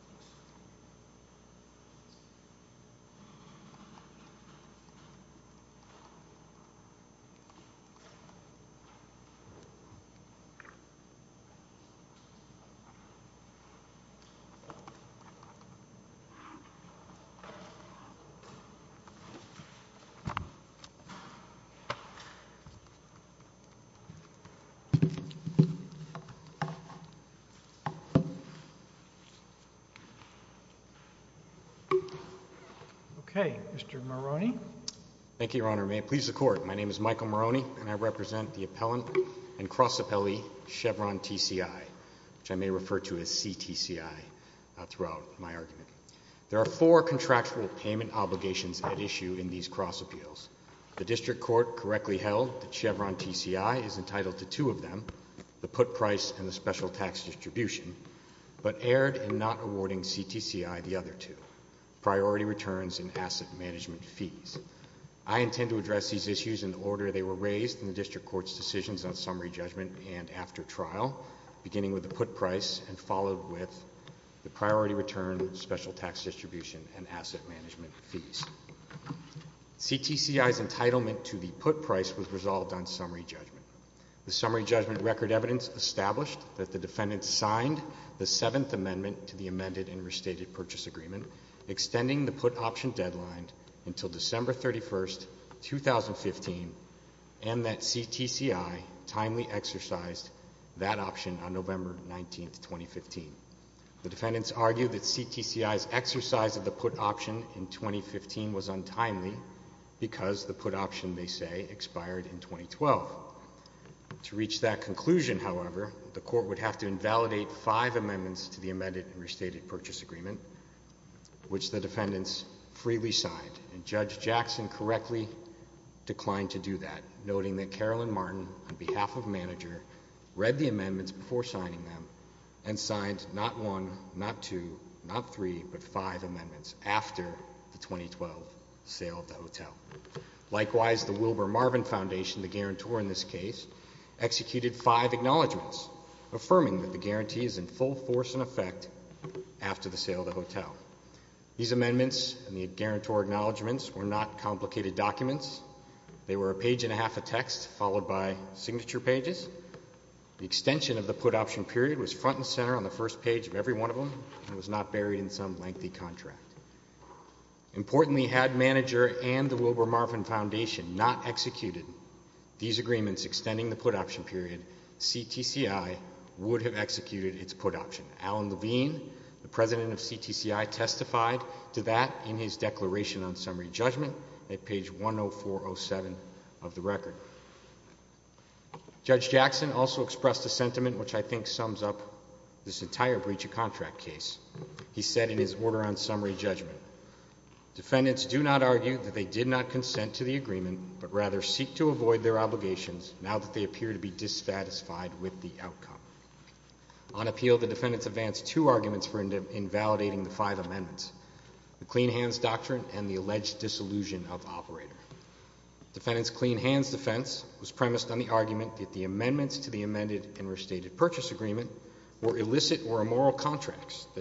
Maroney. Okay. Mr. Maroney. Thank you, Your Honor. May it please the Court, my name is Michael Maroney and I represent the appellant and cross appellee Chevron TCI, which I may refer to as CTCI throughout my argument. There are four contractual payment obligations at issue in these cross appeals. The district court correctly held that Chevron TCI is entitled to two of them, the put price and the special tax distribution, but erred in not awarding CTCI the other two, priority returns and asset management fees. I intend to address these issues in the order they were raised in the district court's decisions on summary judgment and after trial, beginning with the put price and followed with the priority return, special tax distribution and asset management fees. CTCI's entitlement to the put price was resolved on summary judgment. The summary judgment record evidence established that the defendants signed the seventh amendment to the amended and restated purchase agreement, extending the put option deadline until December 31st, 2015, and that CTCI timely exercised that option on November 19th, 2015. The defendants argued that CTCI's exercise of the put option in 2015 was untimely because the put option, they say, expired in 2012. To reach that conclusion, however, the court would have to invalidate five amendments to the amended and restated purchase agreement, which the defendants freely signed, and Judge Jackson correctly declined to do that, noting that Carolyn Martin, on behalf of the manager, read the amendments before signing them and signed not one, not two, not three, but five Likewise, the Wilbur Marvin Foundation, the guarantor in this case, executed five acknowledgments, affirming that the guarantee is in full force and effect after the sale of the hotel. These amendments and the guarantor acknowledgments were not complicated documents. They were a page and a half of text followed by signature pages. The extension of the put option period was front and center on the first page of every one of them and was not buried in some lengthy contract. Importantly, had manager and the Wilbur Marvin Foundation not executed these agreements extending the put option period, CTCI would have executed its put option. Alan Levine, the president of CTCI, testified to that in his declaration on summary judgment at page 10407 of the record. Judge Jackson also expressed a sentiment which I think sums up this entire breach of contract case. He said in his order on summary judgment, defendants do not argue that they did not consent to the agreement, but rather seek to avoid their obligations now that they appear to be dissatisfied with the outcome. On appeal, the defendants advanced two arguments for invalidating the five amendments, the clean hands doctrine and the alleged disillusion of operator. Defendants clean hands defense was premised on the argument that the amendments to the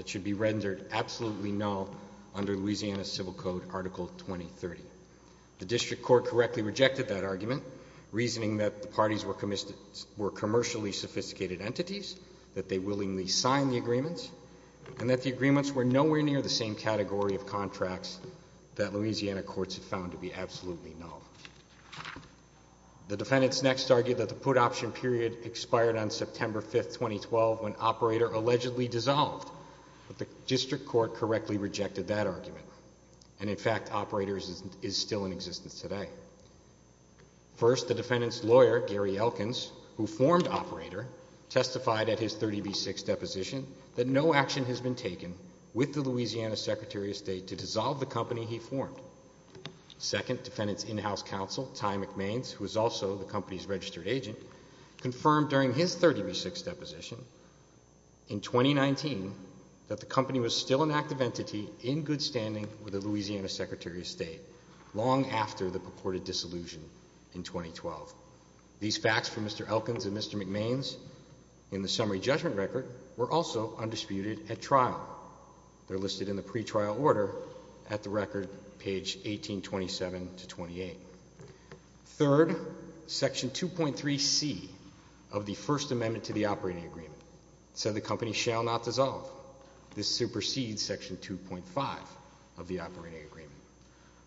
agreement should be rendered absolutely null under Louisiana civil code article 2030. The district court correctly rejected that argument, reasoning that the parties were commercially sophisticated entities, that they willingly signed the agreements and that the agreements were nowhere near the same category of contracts that Louisiana courts have found to be absolutely null. The defendants next argued that the put option period expired on September 5th, 2012 when operator allegedly dissolved, but the district court correctly rejected that argument. And in fact, operator is still in existence today. First, the defendant's lawyer, Gary Elkins, who formed operator, testified at his 30B6 deposition that no action has been taken with the Louisiana Secretary of State to dissolve the company he formed. Second, defendant's in-house counsel, Ty McMains, who is also the company's registered agent, confirmed during his 30B6 deposition in 2019 that the company was still an active entity in good standing with the Louisiana Secretary of State, long after the purported dissolution in 2012. These facts from Mr. Elkins and Mr. McMains in the summary judgment record were also undisputed at trial. They're listed in the pretrial order at the record, page 1827 to 28. Third, Section 2.3C of the First Amendment to the Operating Agreement said the company shall not dissolve. This supersedes Section 2.5 of the Operating Agreement.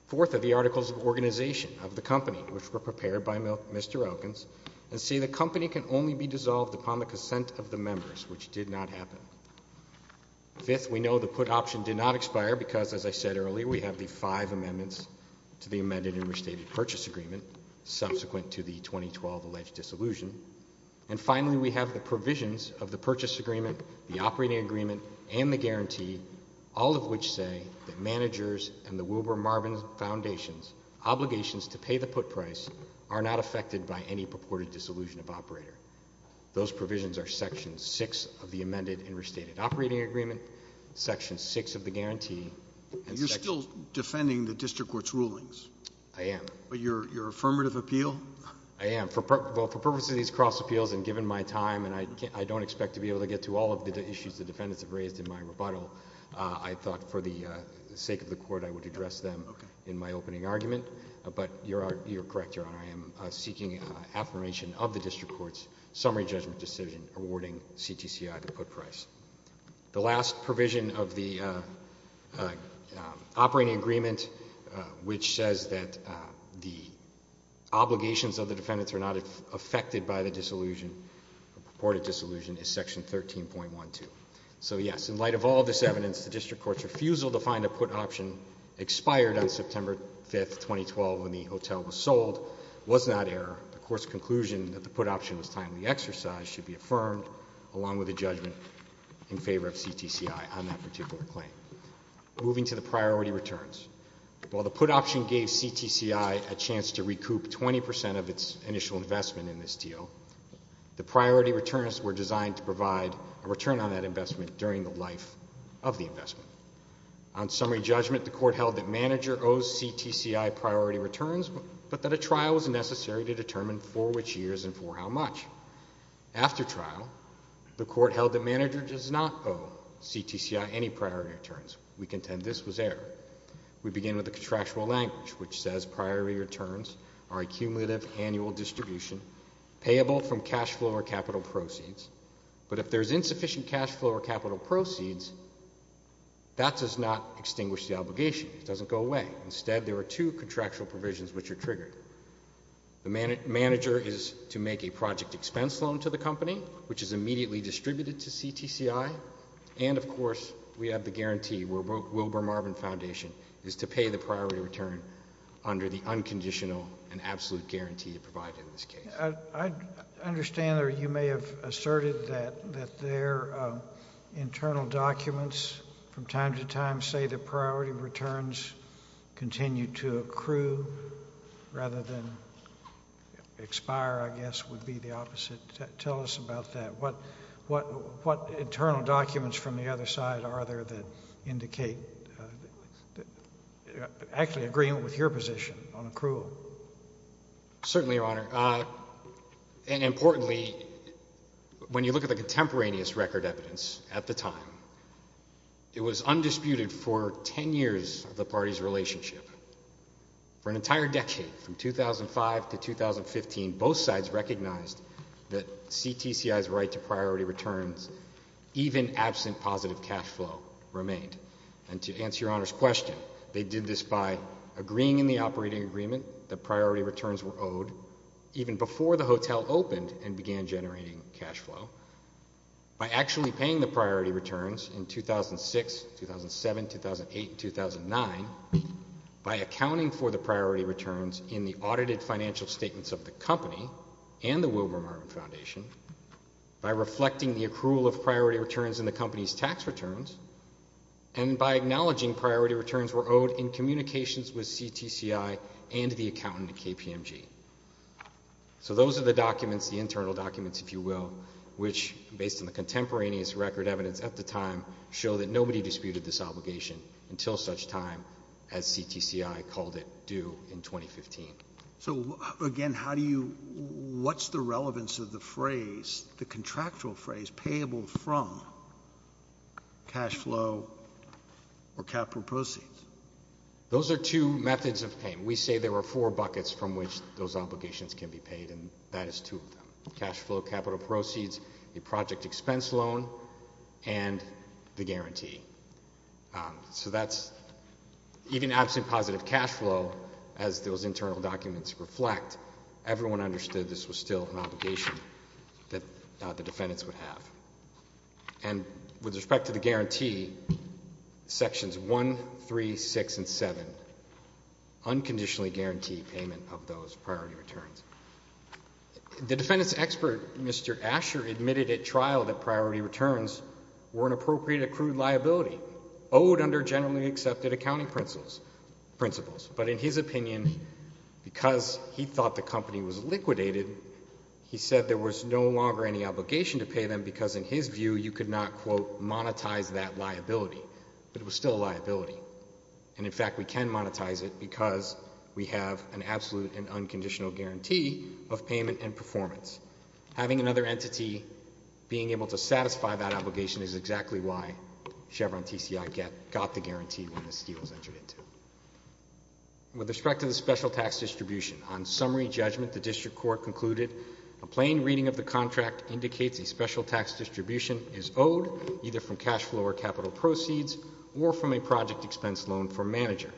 Fourth are the articles of organization of the company, which were prepared by Mr. Elkins, and say the company can only be dissolved upon the consent of the members, which did not happen. Fifth, we know the put option did not expire because, as I said earlier, we have the five percent purchase agreement, subsequent to the 2012 alleged dissolution. And finally, we have the provisions of the purchase agreement, the operating agreement, and the guarantee, all of which say that managers and the Wilbur Marvin Foundation's obligations to pay the put price are not affected by any purported dissolution of operator. Those provisions are Section 6 of the amended and restated operating agreement, Section 6 of the guarantee, and Section 6 of the disillusionment. And you're still defending the district court's rulings? I am. But your affirmative appeal? I am. Well, for purposes of these cross appeals, and given my time, and I don't expect to be able to get to all of the issues the defendants have raised in my rebuttal, I thought for the sake of the court, I would address them in my opening argument. But you're correct, Your Honor, I am seeking affirmation of the district court's summary judgment decision awarding CTCI the put price. The last provision of the operating agreement, which says that the obligations of the defendants are not affected by the disillusion, purported disillusion, is Section 13.12. So yes, in light of all this evidence, the district court's refusal to find a put option expired on September 5, 2012, when the hotel was sold, was not error. The court's conclusion that the put option was timely exercise should be affirmed, along with a judgment in favor of CTCI on that particular claim. Moving to the priority returns, while the put option gave CTCI a chance to recoup 20 percent of its initial investment in this deal, the priority returns were designed to provide a return on that investment during the life of the investment. On summary judgment, the court held that manager owes CTCI priority returns, but that a trial was necessary to determine for which years and for how much. After trial, the court held that manager does not owe CTCI any priority returns. We contend this was error. We begin with the contractual language, which says priority returns are a cumulative annual distribution payable from cash flow or capital proceeds. But if there is insufficient cash flow or capital proceeds, that does not extinguish the obligation. It doesn't go away. Instead, there are two contractual provisions which are triggered. The manager is to make a project expense loan to the company, which is immediately distributed to CTCI. And, of course, we have the guarantee where Wilbur Marvin Foundation is to pay the priority return under the unconditional and absolute guarantee to provide in this case. I understand or you may have asserted that their internal documents from time to time say that priority returns continue to accrue rather than expire, I guess, would be the opposite. Tell us about that. What internal documents from the other side are there that indicate actually agreement with your position on accrual? Certainly, Your Honor, and importantly, when you look at the contemporaneous record evidence at the time, it was undisputed for 10 years of the party's relationship. For an entire decade, from 2005 to 2015, both sides recognized that CTCI's right to priority returns, even absent positive cash flow, remained. And to answer Your Honor's question, they did this by agreeing in the operating agreement that priority returns were owed even before the hotel opened and began generating cash flow, by actually paying the priority returns in 2006, 2007, 2008, and 2009, by accounting for the priority returns in the audited financial statements of the company and the Wilbur Marvin Foundation, by reflecting the accrual of priority returns in the company's tax returns, and by acknowledging priority returns were owed in communications with CTCI and the accountant at KPMG. So those are the documents, the internal documents, if you will, which, based on the contemporaneous record evidence at the time, show that nobody disputed this obligation until such time as CTCI called it due in 2015. So again, how do you, what's the relevance of the phrase, the contractual phrase, payable from cash flow or capital proceeds? Those are two methods of payment. We say there are four buckets from which those obligations can be paid, and that is two of them. Cash flow, capital proceeds, the project expense loan, and the guarantee. So that's, even absent positive cash flow, as those internal documents reflect, everyone understood this was still an obligation that the defendants would have. And with respect to the guarantee, Sections 1, 3, 6, and 7 unconditionally guarantee payment of those priority returns. The defendant's expert, Mr. Asher, admitted at trial that priority returns were an appropriate accrued liability, owed under generally accepted accounting principles. But in his opinion, because he thought the company was liquidated, he said there was no longer any obligation to pay them because, in his view, you could not, quote, monetize that liability. But it was still a liability, and in fact, we can monetize it because we have an absolute and unconditional guarantee of payment and performance. Having another entity being able to satisfy that obligation is exactly why Chevron TCI got the guarantee when this deal was entered into. With respect to the special tax distribution, on summary judgment, the district court concluded a plain reading of the contract indicates a special tax distribution is owed either from cash flow or capital proceeds or from a project expense loan from manager.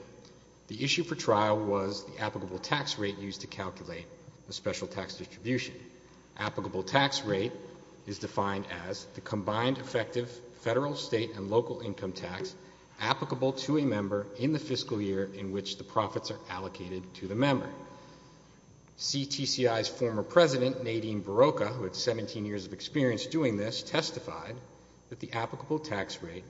The issue for trial was the applicable tax rate used to calculate the special tax distribution. Applicable tax rate is defined as the combined effective federal, state, and local income tax applicable to a member in the fiscal year in which the profits are allocated to the member. CTCI's former president, Nadine Barocca, who had 17 years of experience doing this, testified that the applicable tax rate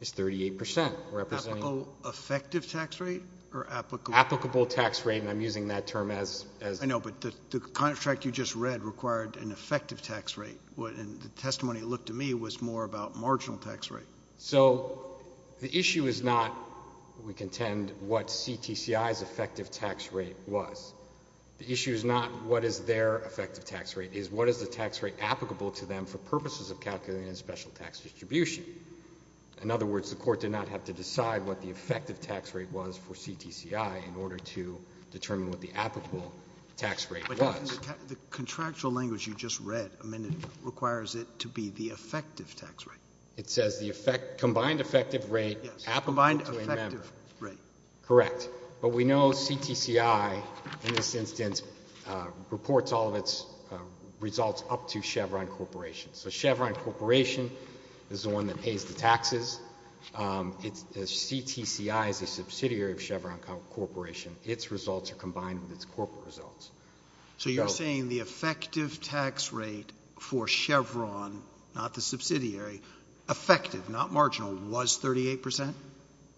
is 38 percent, representing Applicable effective tax rate or applicable Applicable tax rate, and I'm using that term as I know, but the contract you just read required an effective tax rate, and the testimony that looked to me was more about marginal tax rate. So the issue is not, we contend, what CTCI's effective tax rate was. The issue is not what is their effective tax rate, it is what is the tax rate applicable to them for purposes of calculating a special tax distribution. In other words, the court did not have to decide what the effective tax rate was for CTCI in order to determine what the applicable tax rate was. The contractual language you just read, I mean, it requires it to be the effective tax rate. It says the effect, combined effective rate, applicable to a member. Yes, combined effective rate. Correct. But we know CTCI, in this instance, reports all of its results up to Chevron Corporation. So Chevron Corporation is the one that pays the taxes. It's, CTCI is a subsidiary of Chevron Corporation. Its results are combined with its corporate results. So you're saying the effective tax rate for Chevron, not the subsidiary, effective, not marginal, was 38 percent?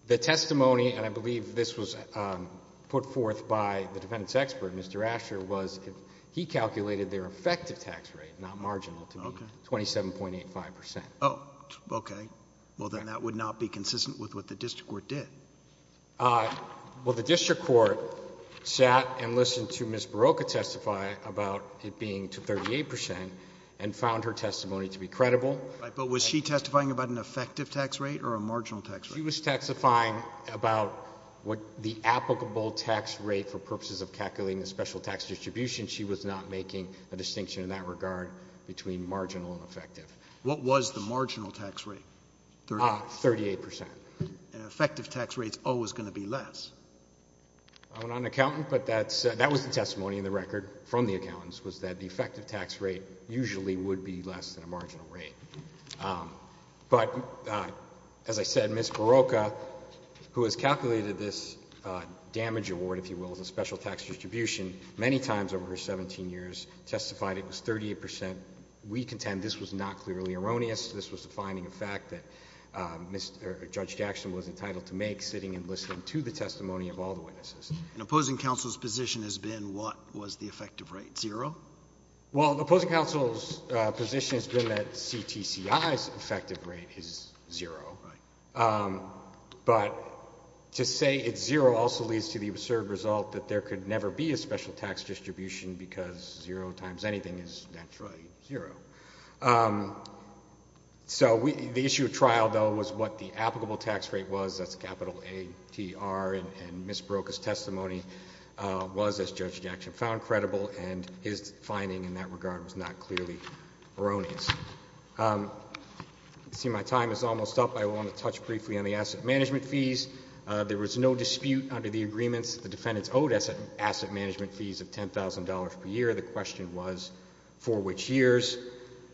The testimony, and I believe this was put forth by the defendant's expert, Mr. Asher, was he calculated their effective tax rate, not marginal, to be 27.85 percent. Oh, okay. Well, then that would not be consistent with what the district court did. Well, the district court sat and listened to Ms. Barocca testify about it being 38 percent and found her testimony to be credible. But was she testifying about an effective tax rate or a marginal tax rate? She was testifying about what the applicable tax rate for purposes of calculating the special tax distribution. She was not making a distinction in that regard between marginal and effective. What was the marginal tax rate? 38 percent. An effective tax rate is always going to be less. I'm not an accountant, but that was the testimony in the record from the accountants, was that the effective tax rate usually would be less than a marginal rate. But as I said, Ms. Barocca, who has calculated this damage award, if you will, as a special tax distribution, many times over her 17 years testified it was 38 percent. We contend this was not clearly erroneous. This was defining a fact that Judge Jackson was entitled to make, sitting and listening to the testimony of all the witnesses. And opposing counsel's position has been what was the effective rate, zero? Well, opposing counsel's position has been that CTCI's effective rate is zero. But to say it's zero also leads to the absurd result that there could never be a special tax distribution because zero times anything is naturally zero. So the issue of trial, though, was what the applicable tax rate was, that's capital A-T-R, and Ms. Barocca's testimony was, as Judge Jackson found credible, and his finding in that regard was not clearly erroneous. I see my time is almost up. I want to touch briefly on the asset management fees. There was no dispute under the agreements that the defendants owed asset management fees of $10,000 per year. The question was for which years?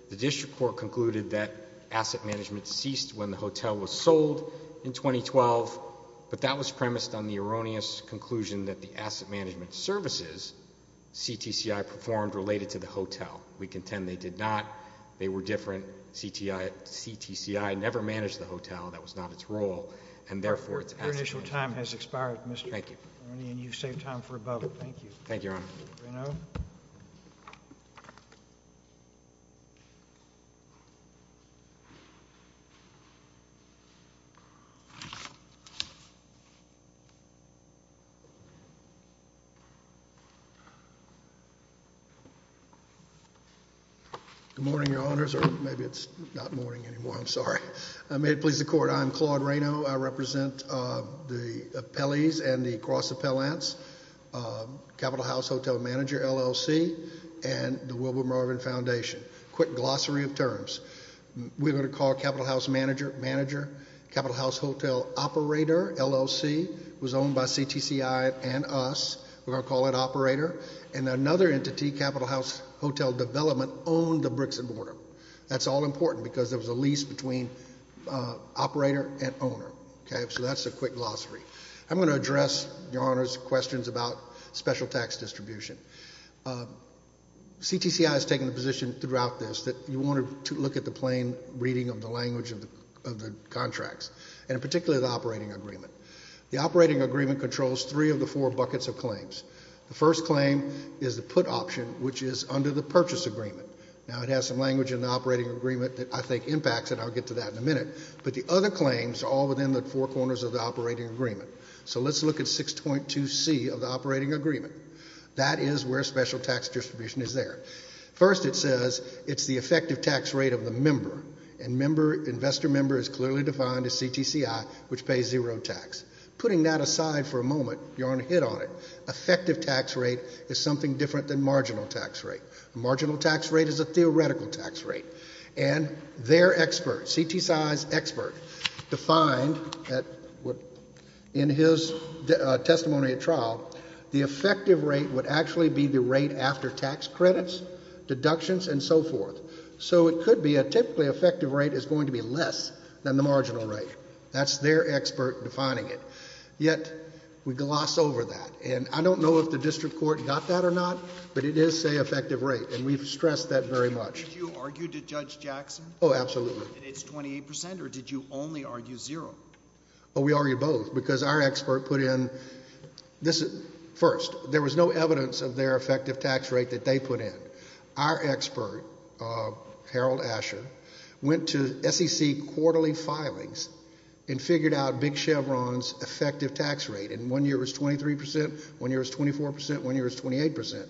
The district court concluded that asset management ceased when the hotel was sold in 2012, but that was premised on the erroneous conclusion that the asset management services CTCI performed related to the hotel. We contend they did not. They were different. CTCI never managed the hotel. That was not its role. And therefore, it's asset management. Your initial time has expired, Mr. McInerney, and you've saved time for a bubble. Thank you. Thank you, Your Honor. Raynaud? Good morning, Your Honors, or maybe it's not morning anymore, I'm sorry. May it please the Court. Good morning, Your Honor. I'm Claude Raynaud. I represent the Appellees and the Cross Appellants, Capital House Hotel Manager, LLC, and the Wilbur Marvin Foundation. Quick glossary of terms. We're going to call Capital House Manager, Manager, Capital House Hotel Operator, LLC, was owned by CTCI and us, we're going to call it Operator, and another entity, Capital House Hotel Development, owned the bricks and mortar. That's all important because there was a lease between operator and owner. Okay? So that's a quick glossary. I'm going to address, Your Honors, questions about special tax distribution. CTCI has taken the position throughout this that you wanted to look at the plain reading of the language of the contracts, and in particular, the operating agreement. The operating agreement controls three of the four buckets of claims. The first claim is the put option, which is under the purchase agreement. Now, it has some language in the operating agreement that I think impacts it, and I'll get to that in a minute, but the other claims are all within the four corners of the operating agreement. So let's look at 6.2C of the operating agreement. That is where special tax distribution is there. First, it says it's the effective tax rate of the member, and investor member is clearly defined as CTCI, which pays zero tax. Putting that aside for a moment, Your Honor, hit on it. Effective tax rate is something different than marginal tax rate. Marginal tax rate is a theoretical tax rate, and their expert, CTCI's expert, defined in his testimony at trial, the effective rate would actually be the rate after tax credits, deductions and so forth. So it could be a typically effective rate is going to be less than the marginal rate. That's their expert defining it. Yet we gloss over that, and I don't know if the district court got that or not, but it is, say, effective rate, and we've stressed that very much. Did you argue to Judge Jackson? Oh, absolutely. And it's 28 percent, or did you only argue zero? Oh, we argued both, because our expert put in, first, there was no evidence of their effective tax rate that they put in. Our expert, Harold Asher, went to SEC quarterly filings and figured out Big Chevron's effective tax rate, and one year was 23 percent, one year was 24 percent, one year was 28 percent.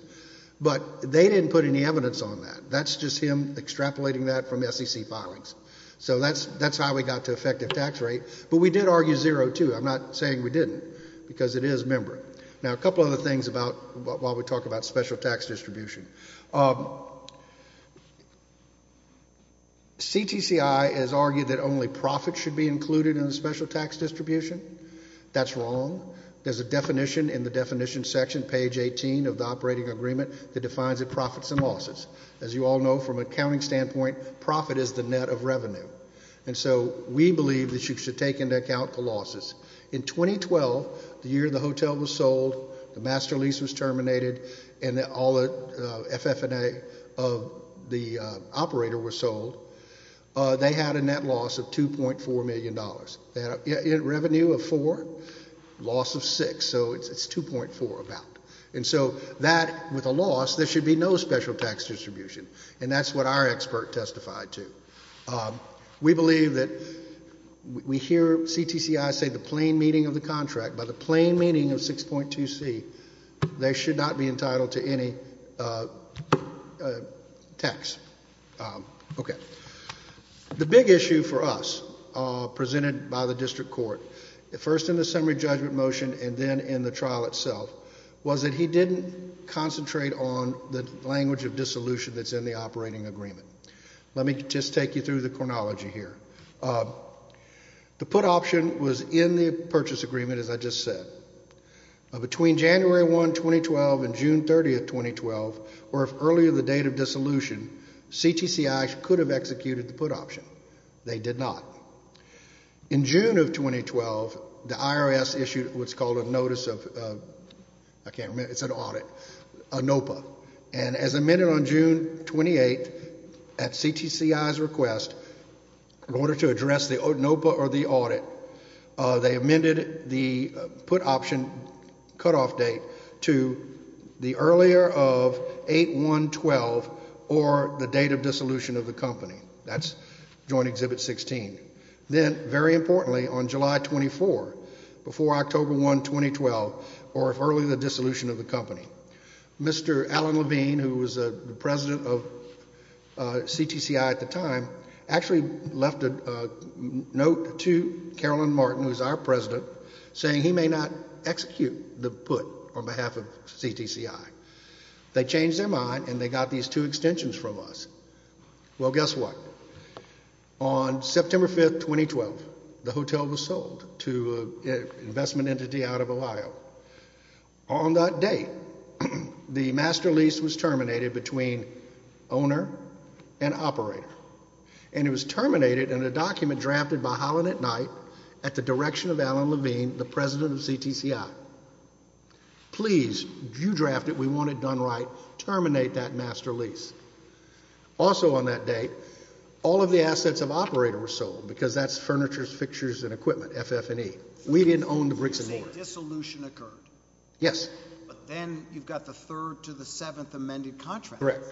But they didn't put any evidence on that. That's just him extrapolating that from SEC filings. So that's how we got to effective tax rate, but we did argue zero, too. I'm not saying we didn't, because it is member. Now, a couple other things about, while we talk about special tax distribution, CTCI has argued that only profits should be included in the special tax distribution. That's wrong. There's a definition in the definition section, page 18 of the operating agreement, that defines it profits and losses. As you all know, from an accounting standpoint, profit is the net of revenue. And so we believe that you should take into account the losses. In 2012, the year the hotel was sold, the master lease was terminated, and all the FF&A of the operator was sold, they had a net loss of $2.4 million. They had a revenue of four, loss of six, so it's 2.4, about. And so that, with a loss, there should be no special tax distribution. And that's what our expert testified to. We believe that, we hear CTCI say the plain meaning of the contract, by the plain meaning of 6.2c, they should not be entitled to any tax, okay. The big issue for us, presented by the district court, first in the summary judgment motion, and then in the trial itself, was that he didn't concentrate on the language of dissolution that's in the operating agreement. Let me just take you through the chronology here. The put option was in the purchase agreement, as I just said. Between January 1, 2012, and June 30, 2012, or if earlier the date of dissolution, CTCI could have executed the put option. They did not. In June of 2012, the IRS issued what's called a notice of, I can't remember, it's an audit, a NOPA. And as amended on June 28, at CTCI's request, in order to address the NOPA or the audit, they amended the put option cutoff date to the earlier of 8-1-12, or the date of dissolution of the company. That's Joint Exhibit 16. Then, very importantly, on July 24, before October 1, 2012, or if earlier the dissolution of the company, Mr. Allen Levine, who was the president of CTCI at the time, actually left a note to Carolyn Martin, who is our president, saying he may not execute the put on behalf of CTCI. They changed their mind, and they got these two extensions from us. Well, guess what? On September 5, 2012, the hotel was sold to an investment entity out of Ohio. On that date, the master lease was terminated between owner and operator, and it was terminated in a document drafted by Holland and Knight at the direction of Allen Levine, the president of CTCI. Please, you draft it. We want it done right. Terminate that master lease. Also on that date, all of the assets of operator were sold, because that's furnitures, fixtures and equipment, FF&E. We didn't own the bricks and mortar. You're saying dissolution occurred? Yes. But then you've got the third to the seventh amended contract. Correct.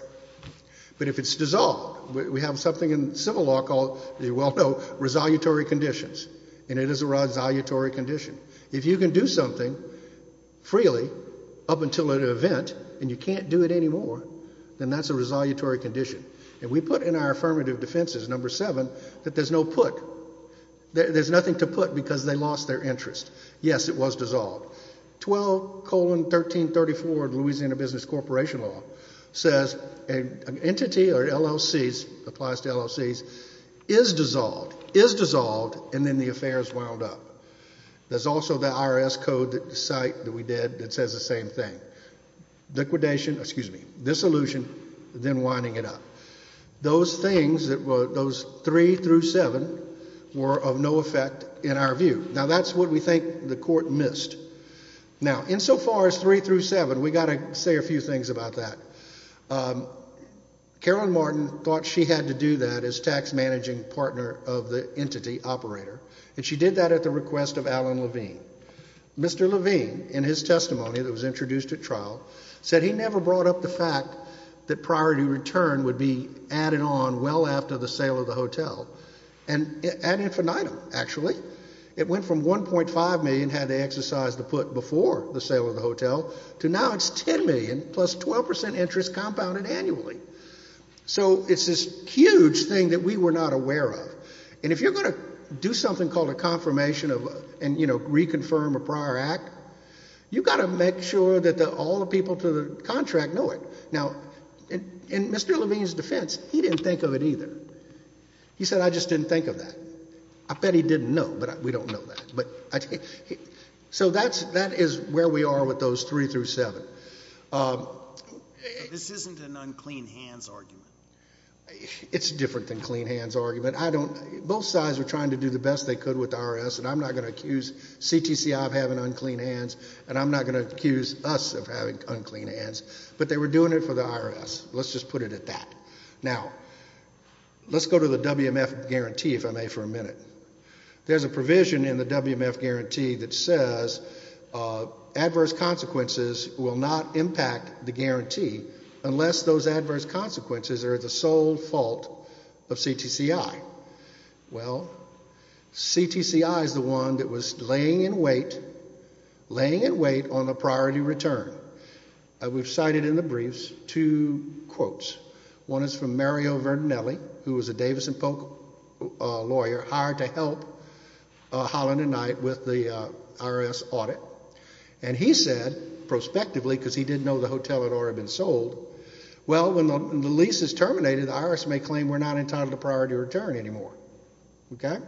But if it's dissolved, we have something in civil law called, as you well know, resolutory conditions, and it is a resolutory condition. If you can do something freely, up until an event, and you can't do it anymore, then that's a resolutory condition, and we put in our affirmative defenses, number seven, that there's no put. There's nothing to put, because they lost their interest. Yes, it was dissolved. 12, colon, 1334, Louisiana Business Corporation Law, says an entity or LLCs, applies to LLCs, is dissolved, is dissolved, and then the affairs wound up. There's also the IRS code, the site that we did, that says the same thing. Liquidation, excuse me, dissolution, then winding it up. Those things, those three through seven, were of no effect in our view. Now that's what we think the court missed. Now insofar as three through seven, we've got to say a few things about that. Carolyn Martin thought she had to do that as tax managing partner of the entity operator, and she did that at the request of Alan Levine. Mr. Levine, in his testimony that was introduced at trial, said he never brought up the fact that priority return would be added on well after the sale of the hotel, and ad infinitum, actually. It went from 1.5 million had they exercised the put before the sale of the hotel, to now it's 10 million, plus 12% interest compounded annually. So it's this huge thing that we were not aware of. And if you're going to do something called a confirmation of, and you know, reconfirm a prior act, you've got to make sure that all the people to the contract know it. Now in Mr. Levine's defense, he didn't think of it either. He said, I just didn't think of that. I bet he didn't know, but we don't know that. So that is where we are with those three through seven. This isn't an unclean hands argument. It's different than clean hands argument. Both sides are trying to do the best they could with the IRS, and I'm not going to accuse CTCI of having unclean hands, and I'm not going to accuse us of having unclean hands. But they were doing it for the IRS. Let's just put it at that. Now, let's go to the WMF guarantee, if I may, for a minute. There's a provision in the WMF guarantee that says adverse consequences will not Well, CTCI is the one that was laying in wait, laying in wait on the priority return. We've cited in the briefs two quotes. One is from Mario Verdinelli, who was a Davis and Polk lawyer, hired to help Holland and Knight with the IRS audit. And he said, prospectively, because he didn't know the hotel had already been sold, well, when the lease is terminated, the IRS may claim we're not entitled to priority return anymore. OK?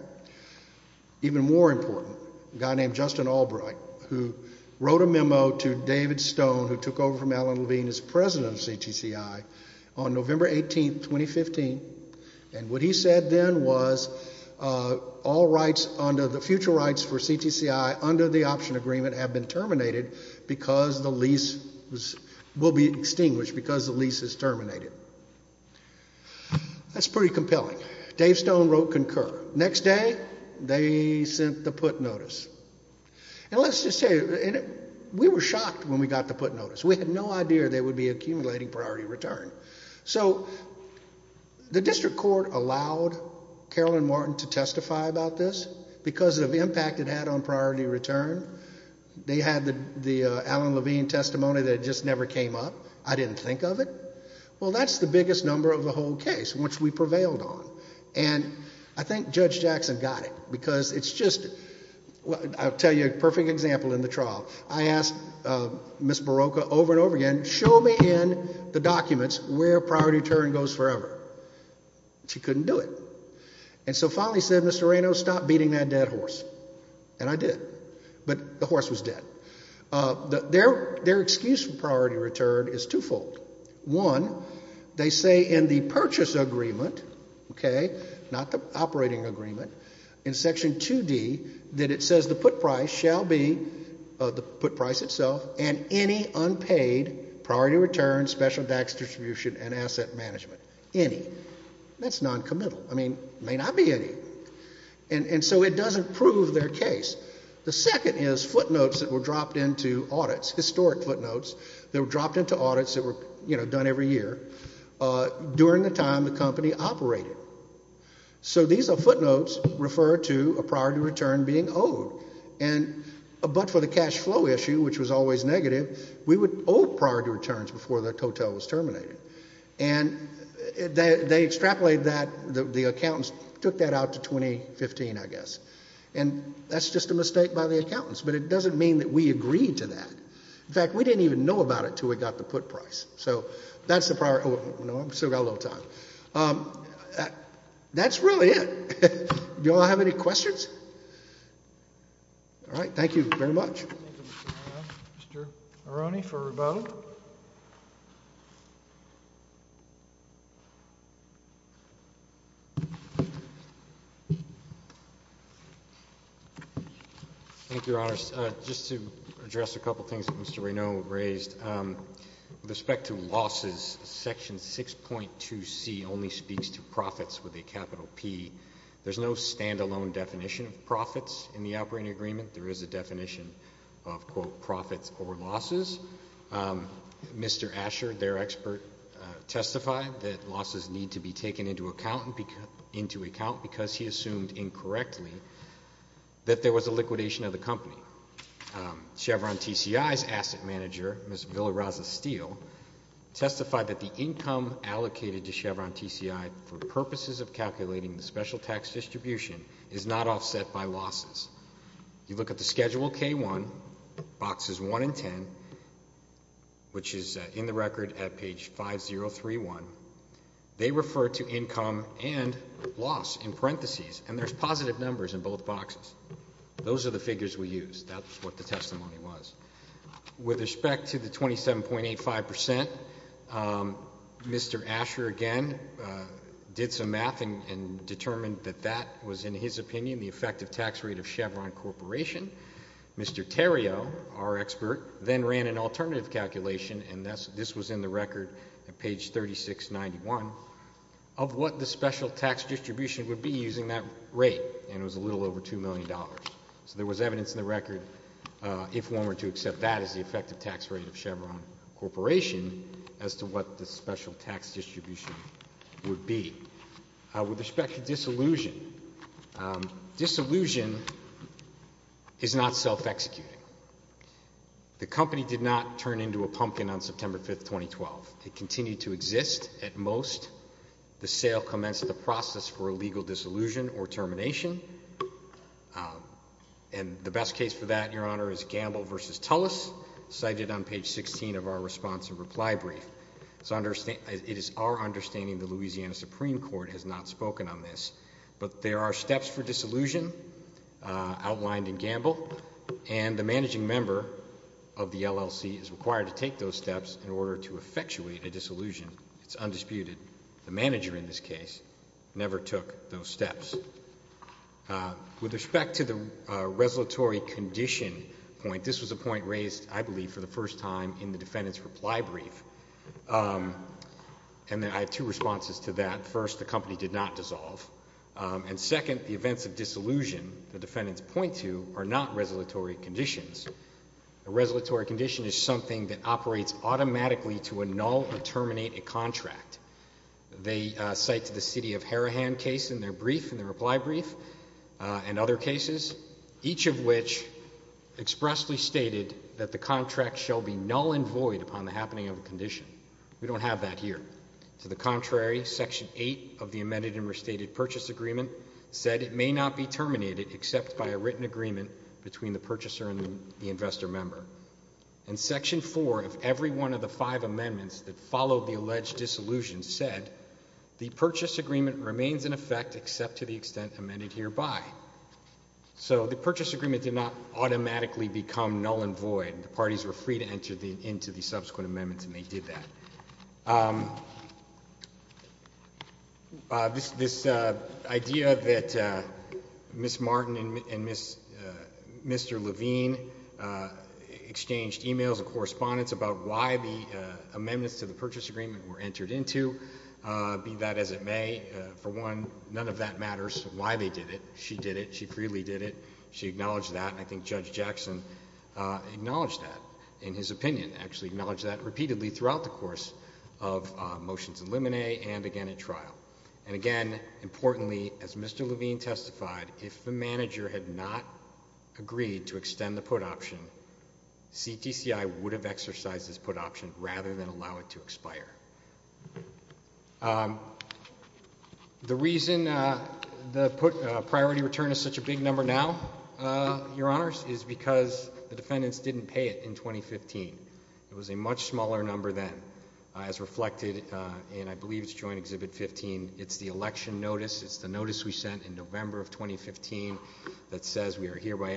Even more important, a guy named Justin Albright, who wrote a memo to David Stone, who took over from Alan Levine as president of CTCI, on November 18, 2015. And what he said then was, all rights under the future rights for CTCI under the option agreement have been terminated because the lease will be extinguished because the lease is terminated. That's pretty compelling. Dave Stone wrote concur. Next day, they sent the put notice. And let's just say, we were shocked when we got the put notice. We had no idea they would be accumulating priority return. So the district court allowed Carolyn Martin to testify about this because of the impact it had on priority return. They had the Alan Levine testimony that just never came up. I didn't think of it. Well, that's the biggest number of the whole case, which we prevailed on. And I think Judge Jackson got it because it's just, I'll tell you a perfect example in the trial. I asked Miss Barocca over and over again, show me in the documents where priority return goes forever. She couldn't do it. And so finally said, Mr. Reno, stop beating that dead horse. And I did. But the horse was dead. Their excuse for priority return is twofold. One, they say in the purchase agreement, not the operating agreement, in section 2D, that it says the put price shall be, the put price itself, and any unpaid priority return, special tax distribution, and asset management. Any. That's noncommittal. I mean, may not be any. And so it doesn't prove their case. The second is footnotes that were dropped into audits, historic footnotes, that were dropped into audits that were done every year during the time the company operated. So these are footnotes referred to a priority return being owed. But for the cash flow issue, which was always negative, we would owe priority returns before the hotel was terminated. And they extrapolated that. The accountants took that out to 2015, I guess. And that's just a mistake by the accountants. But it doesn't mean that we agreed to that. In fact, we didn't even know about it until we got the put price. So that's the priority. Oh, no, I've still got a little time. That's really it. Do you all have any questions? All right. Thank you very much. Mr. Aroni for rebuttal. Thank you, Your Honor. Just to address a couple of things that Mr. Raynaud raised. With respect to losses, Section 6.2C only speaks to profits with a capital P. There's no standalone definition of profits in the operating agreement. There is a definition of, quote, profits or losses. Losses need to be taken into account because he assumed incorrectly that there was a liquidation of the company. Chevron TCI's asset manager, Ms. Villaraza-Steele, testified that the income allocated to Chevron TCI for purposes of calculating the special tax distribution is not offset by losses. You look at the Schedule K1, boxes 1 and 10, which is in the record at page 5031. They refer to income and loss in parentheses, and there's positive numbers in both boxes. Those are the figures we used. That's what the testimony was. With respect to the 27.85%, Mr. Asher again did some math and determined that that was, in his opinion, the effective tax rate of Chevron Corporation. Mr. Terrio, our expert, then ran an alternative calculation, and this was in the record at page 3691, of what the special tax distribution would be using that rate. And it was a little over $2 million. So there was evidence in the record, if one were to accept that as the effective tax rate of Chevron Corporation, as to what the special tax distribution would be. With respect to disillusion, disillusion is not self-executing. The company did not turn into a pumpkin on September 5th, 2012. It continued to exist at most. The sale commenced the process for a legal disillusion or termination. And the best case for that, your honor, is Gamble versus Tullis, cited on page 16 of our response and reply brief. It is our understanding the Louisiana Supreme Court has not spoken on this. But there are steps for disillusion outlined in Gamble, and the managing member of the LLC is required to take those steps in order to effectuate a disillusion. It's undisputed. The manager in this case never took those steps. With respect to the resolutory condition point, this was a point raised, I believe, for the first time in the defendant's reply brief. And I have two responses to that. First, the company did not dissolve. And second, the events of disillusion the defendants point to are not resolutory conditions. A resolutory condition is something that operates automatically to annul or terminate a contract. They cite to the city of Harahan case in their brief, in their reply brief, and other cases, each of which expressly stated that the contract shall be null and void under the resolutory condition. We don't have that here. To the contrary, section eight of the amended and restated purchase agreement said it may not be terminated except by a written agreement between the purchaser and the investor member. In section four of every one of the five amendments that followed the alleged disillusion said the purchase agreement remains in effect except to the extent amended hereby. So the purchase agreement did not automatically become null and void. The parties were free to enter into the subsequent amendments and they did that. This idea that Ms. Martin and Mr. Levine exchanged emails and correspondence about why the amendments to the purchase agreement were entered into. Be that as it may, for one, none of that matters why they did it. She did it. She freely did it. She acknowledged that. I think Judge Jackson acknowledged that in his opinion, actually acknowledged that repeatedly throughout the course of motions in limine and again in trial. And again, importantly, as Mr. Levine testified, if the manager had not agreed to extend the put option, CTCI would have exercised this put option rather than allow it to expire. The reason the put priority return is such a big number now, your honors, is because the defendants didn't pay it in 2015. It was a much smaller number then, as reflected in, I believe it's joint exhibit 15, it's the election notice. It's the notice we sent in November of 2015 that says we are hereby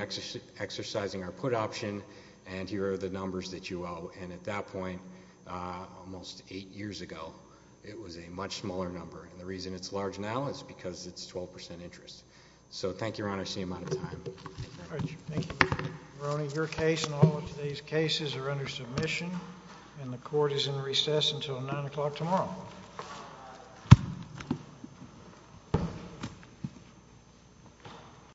exercising our put option and here are the numbers that you owe. And at that point, almost eight years ago, it was a much smaller number. And the reason it's large now is because it's 12% interest. So thank you, your honor, I see I'm out of time. Thank you. Ronnie, your case and all of today's cases are under submission and the court is in recess until 9 o'clock tomorrow.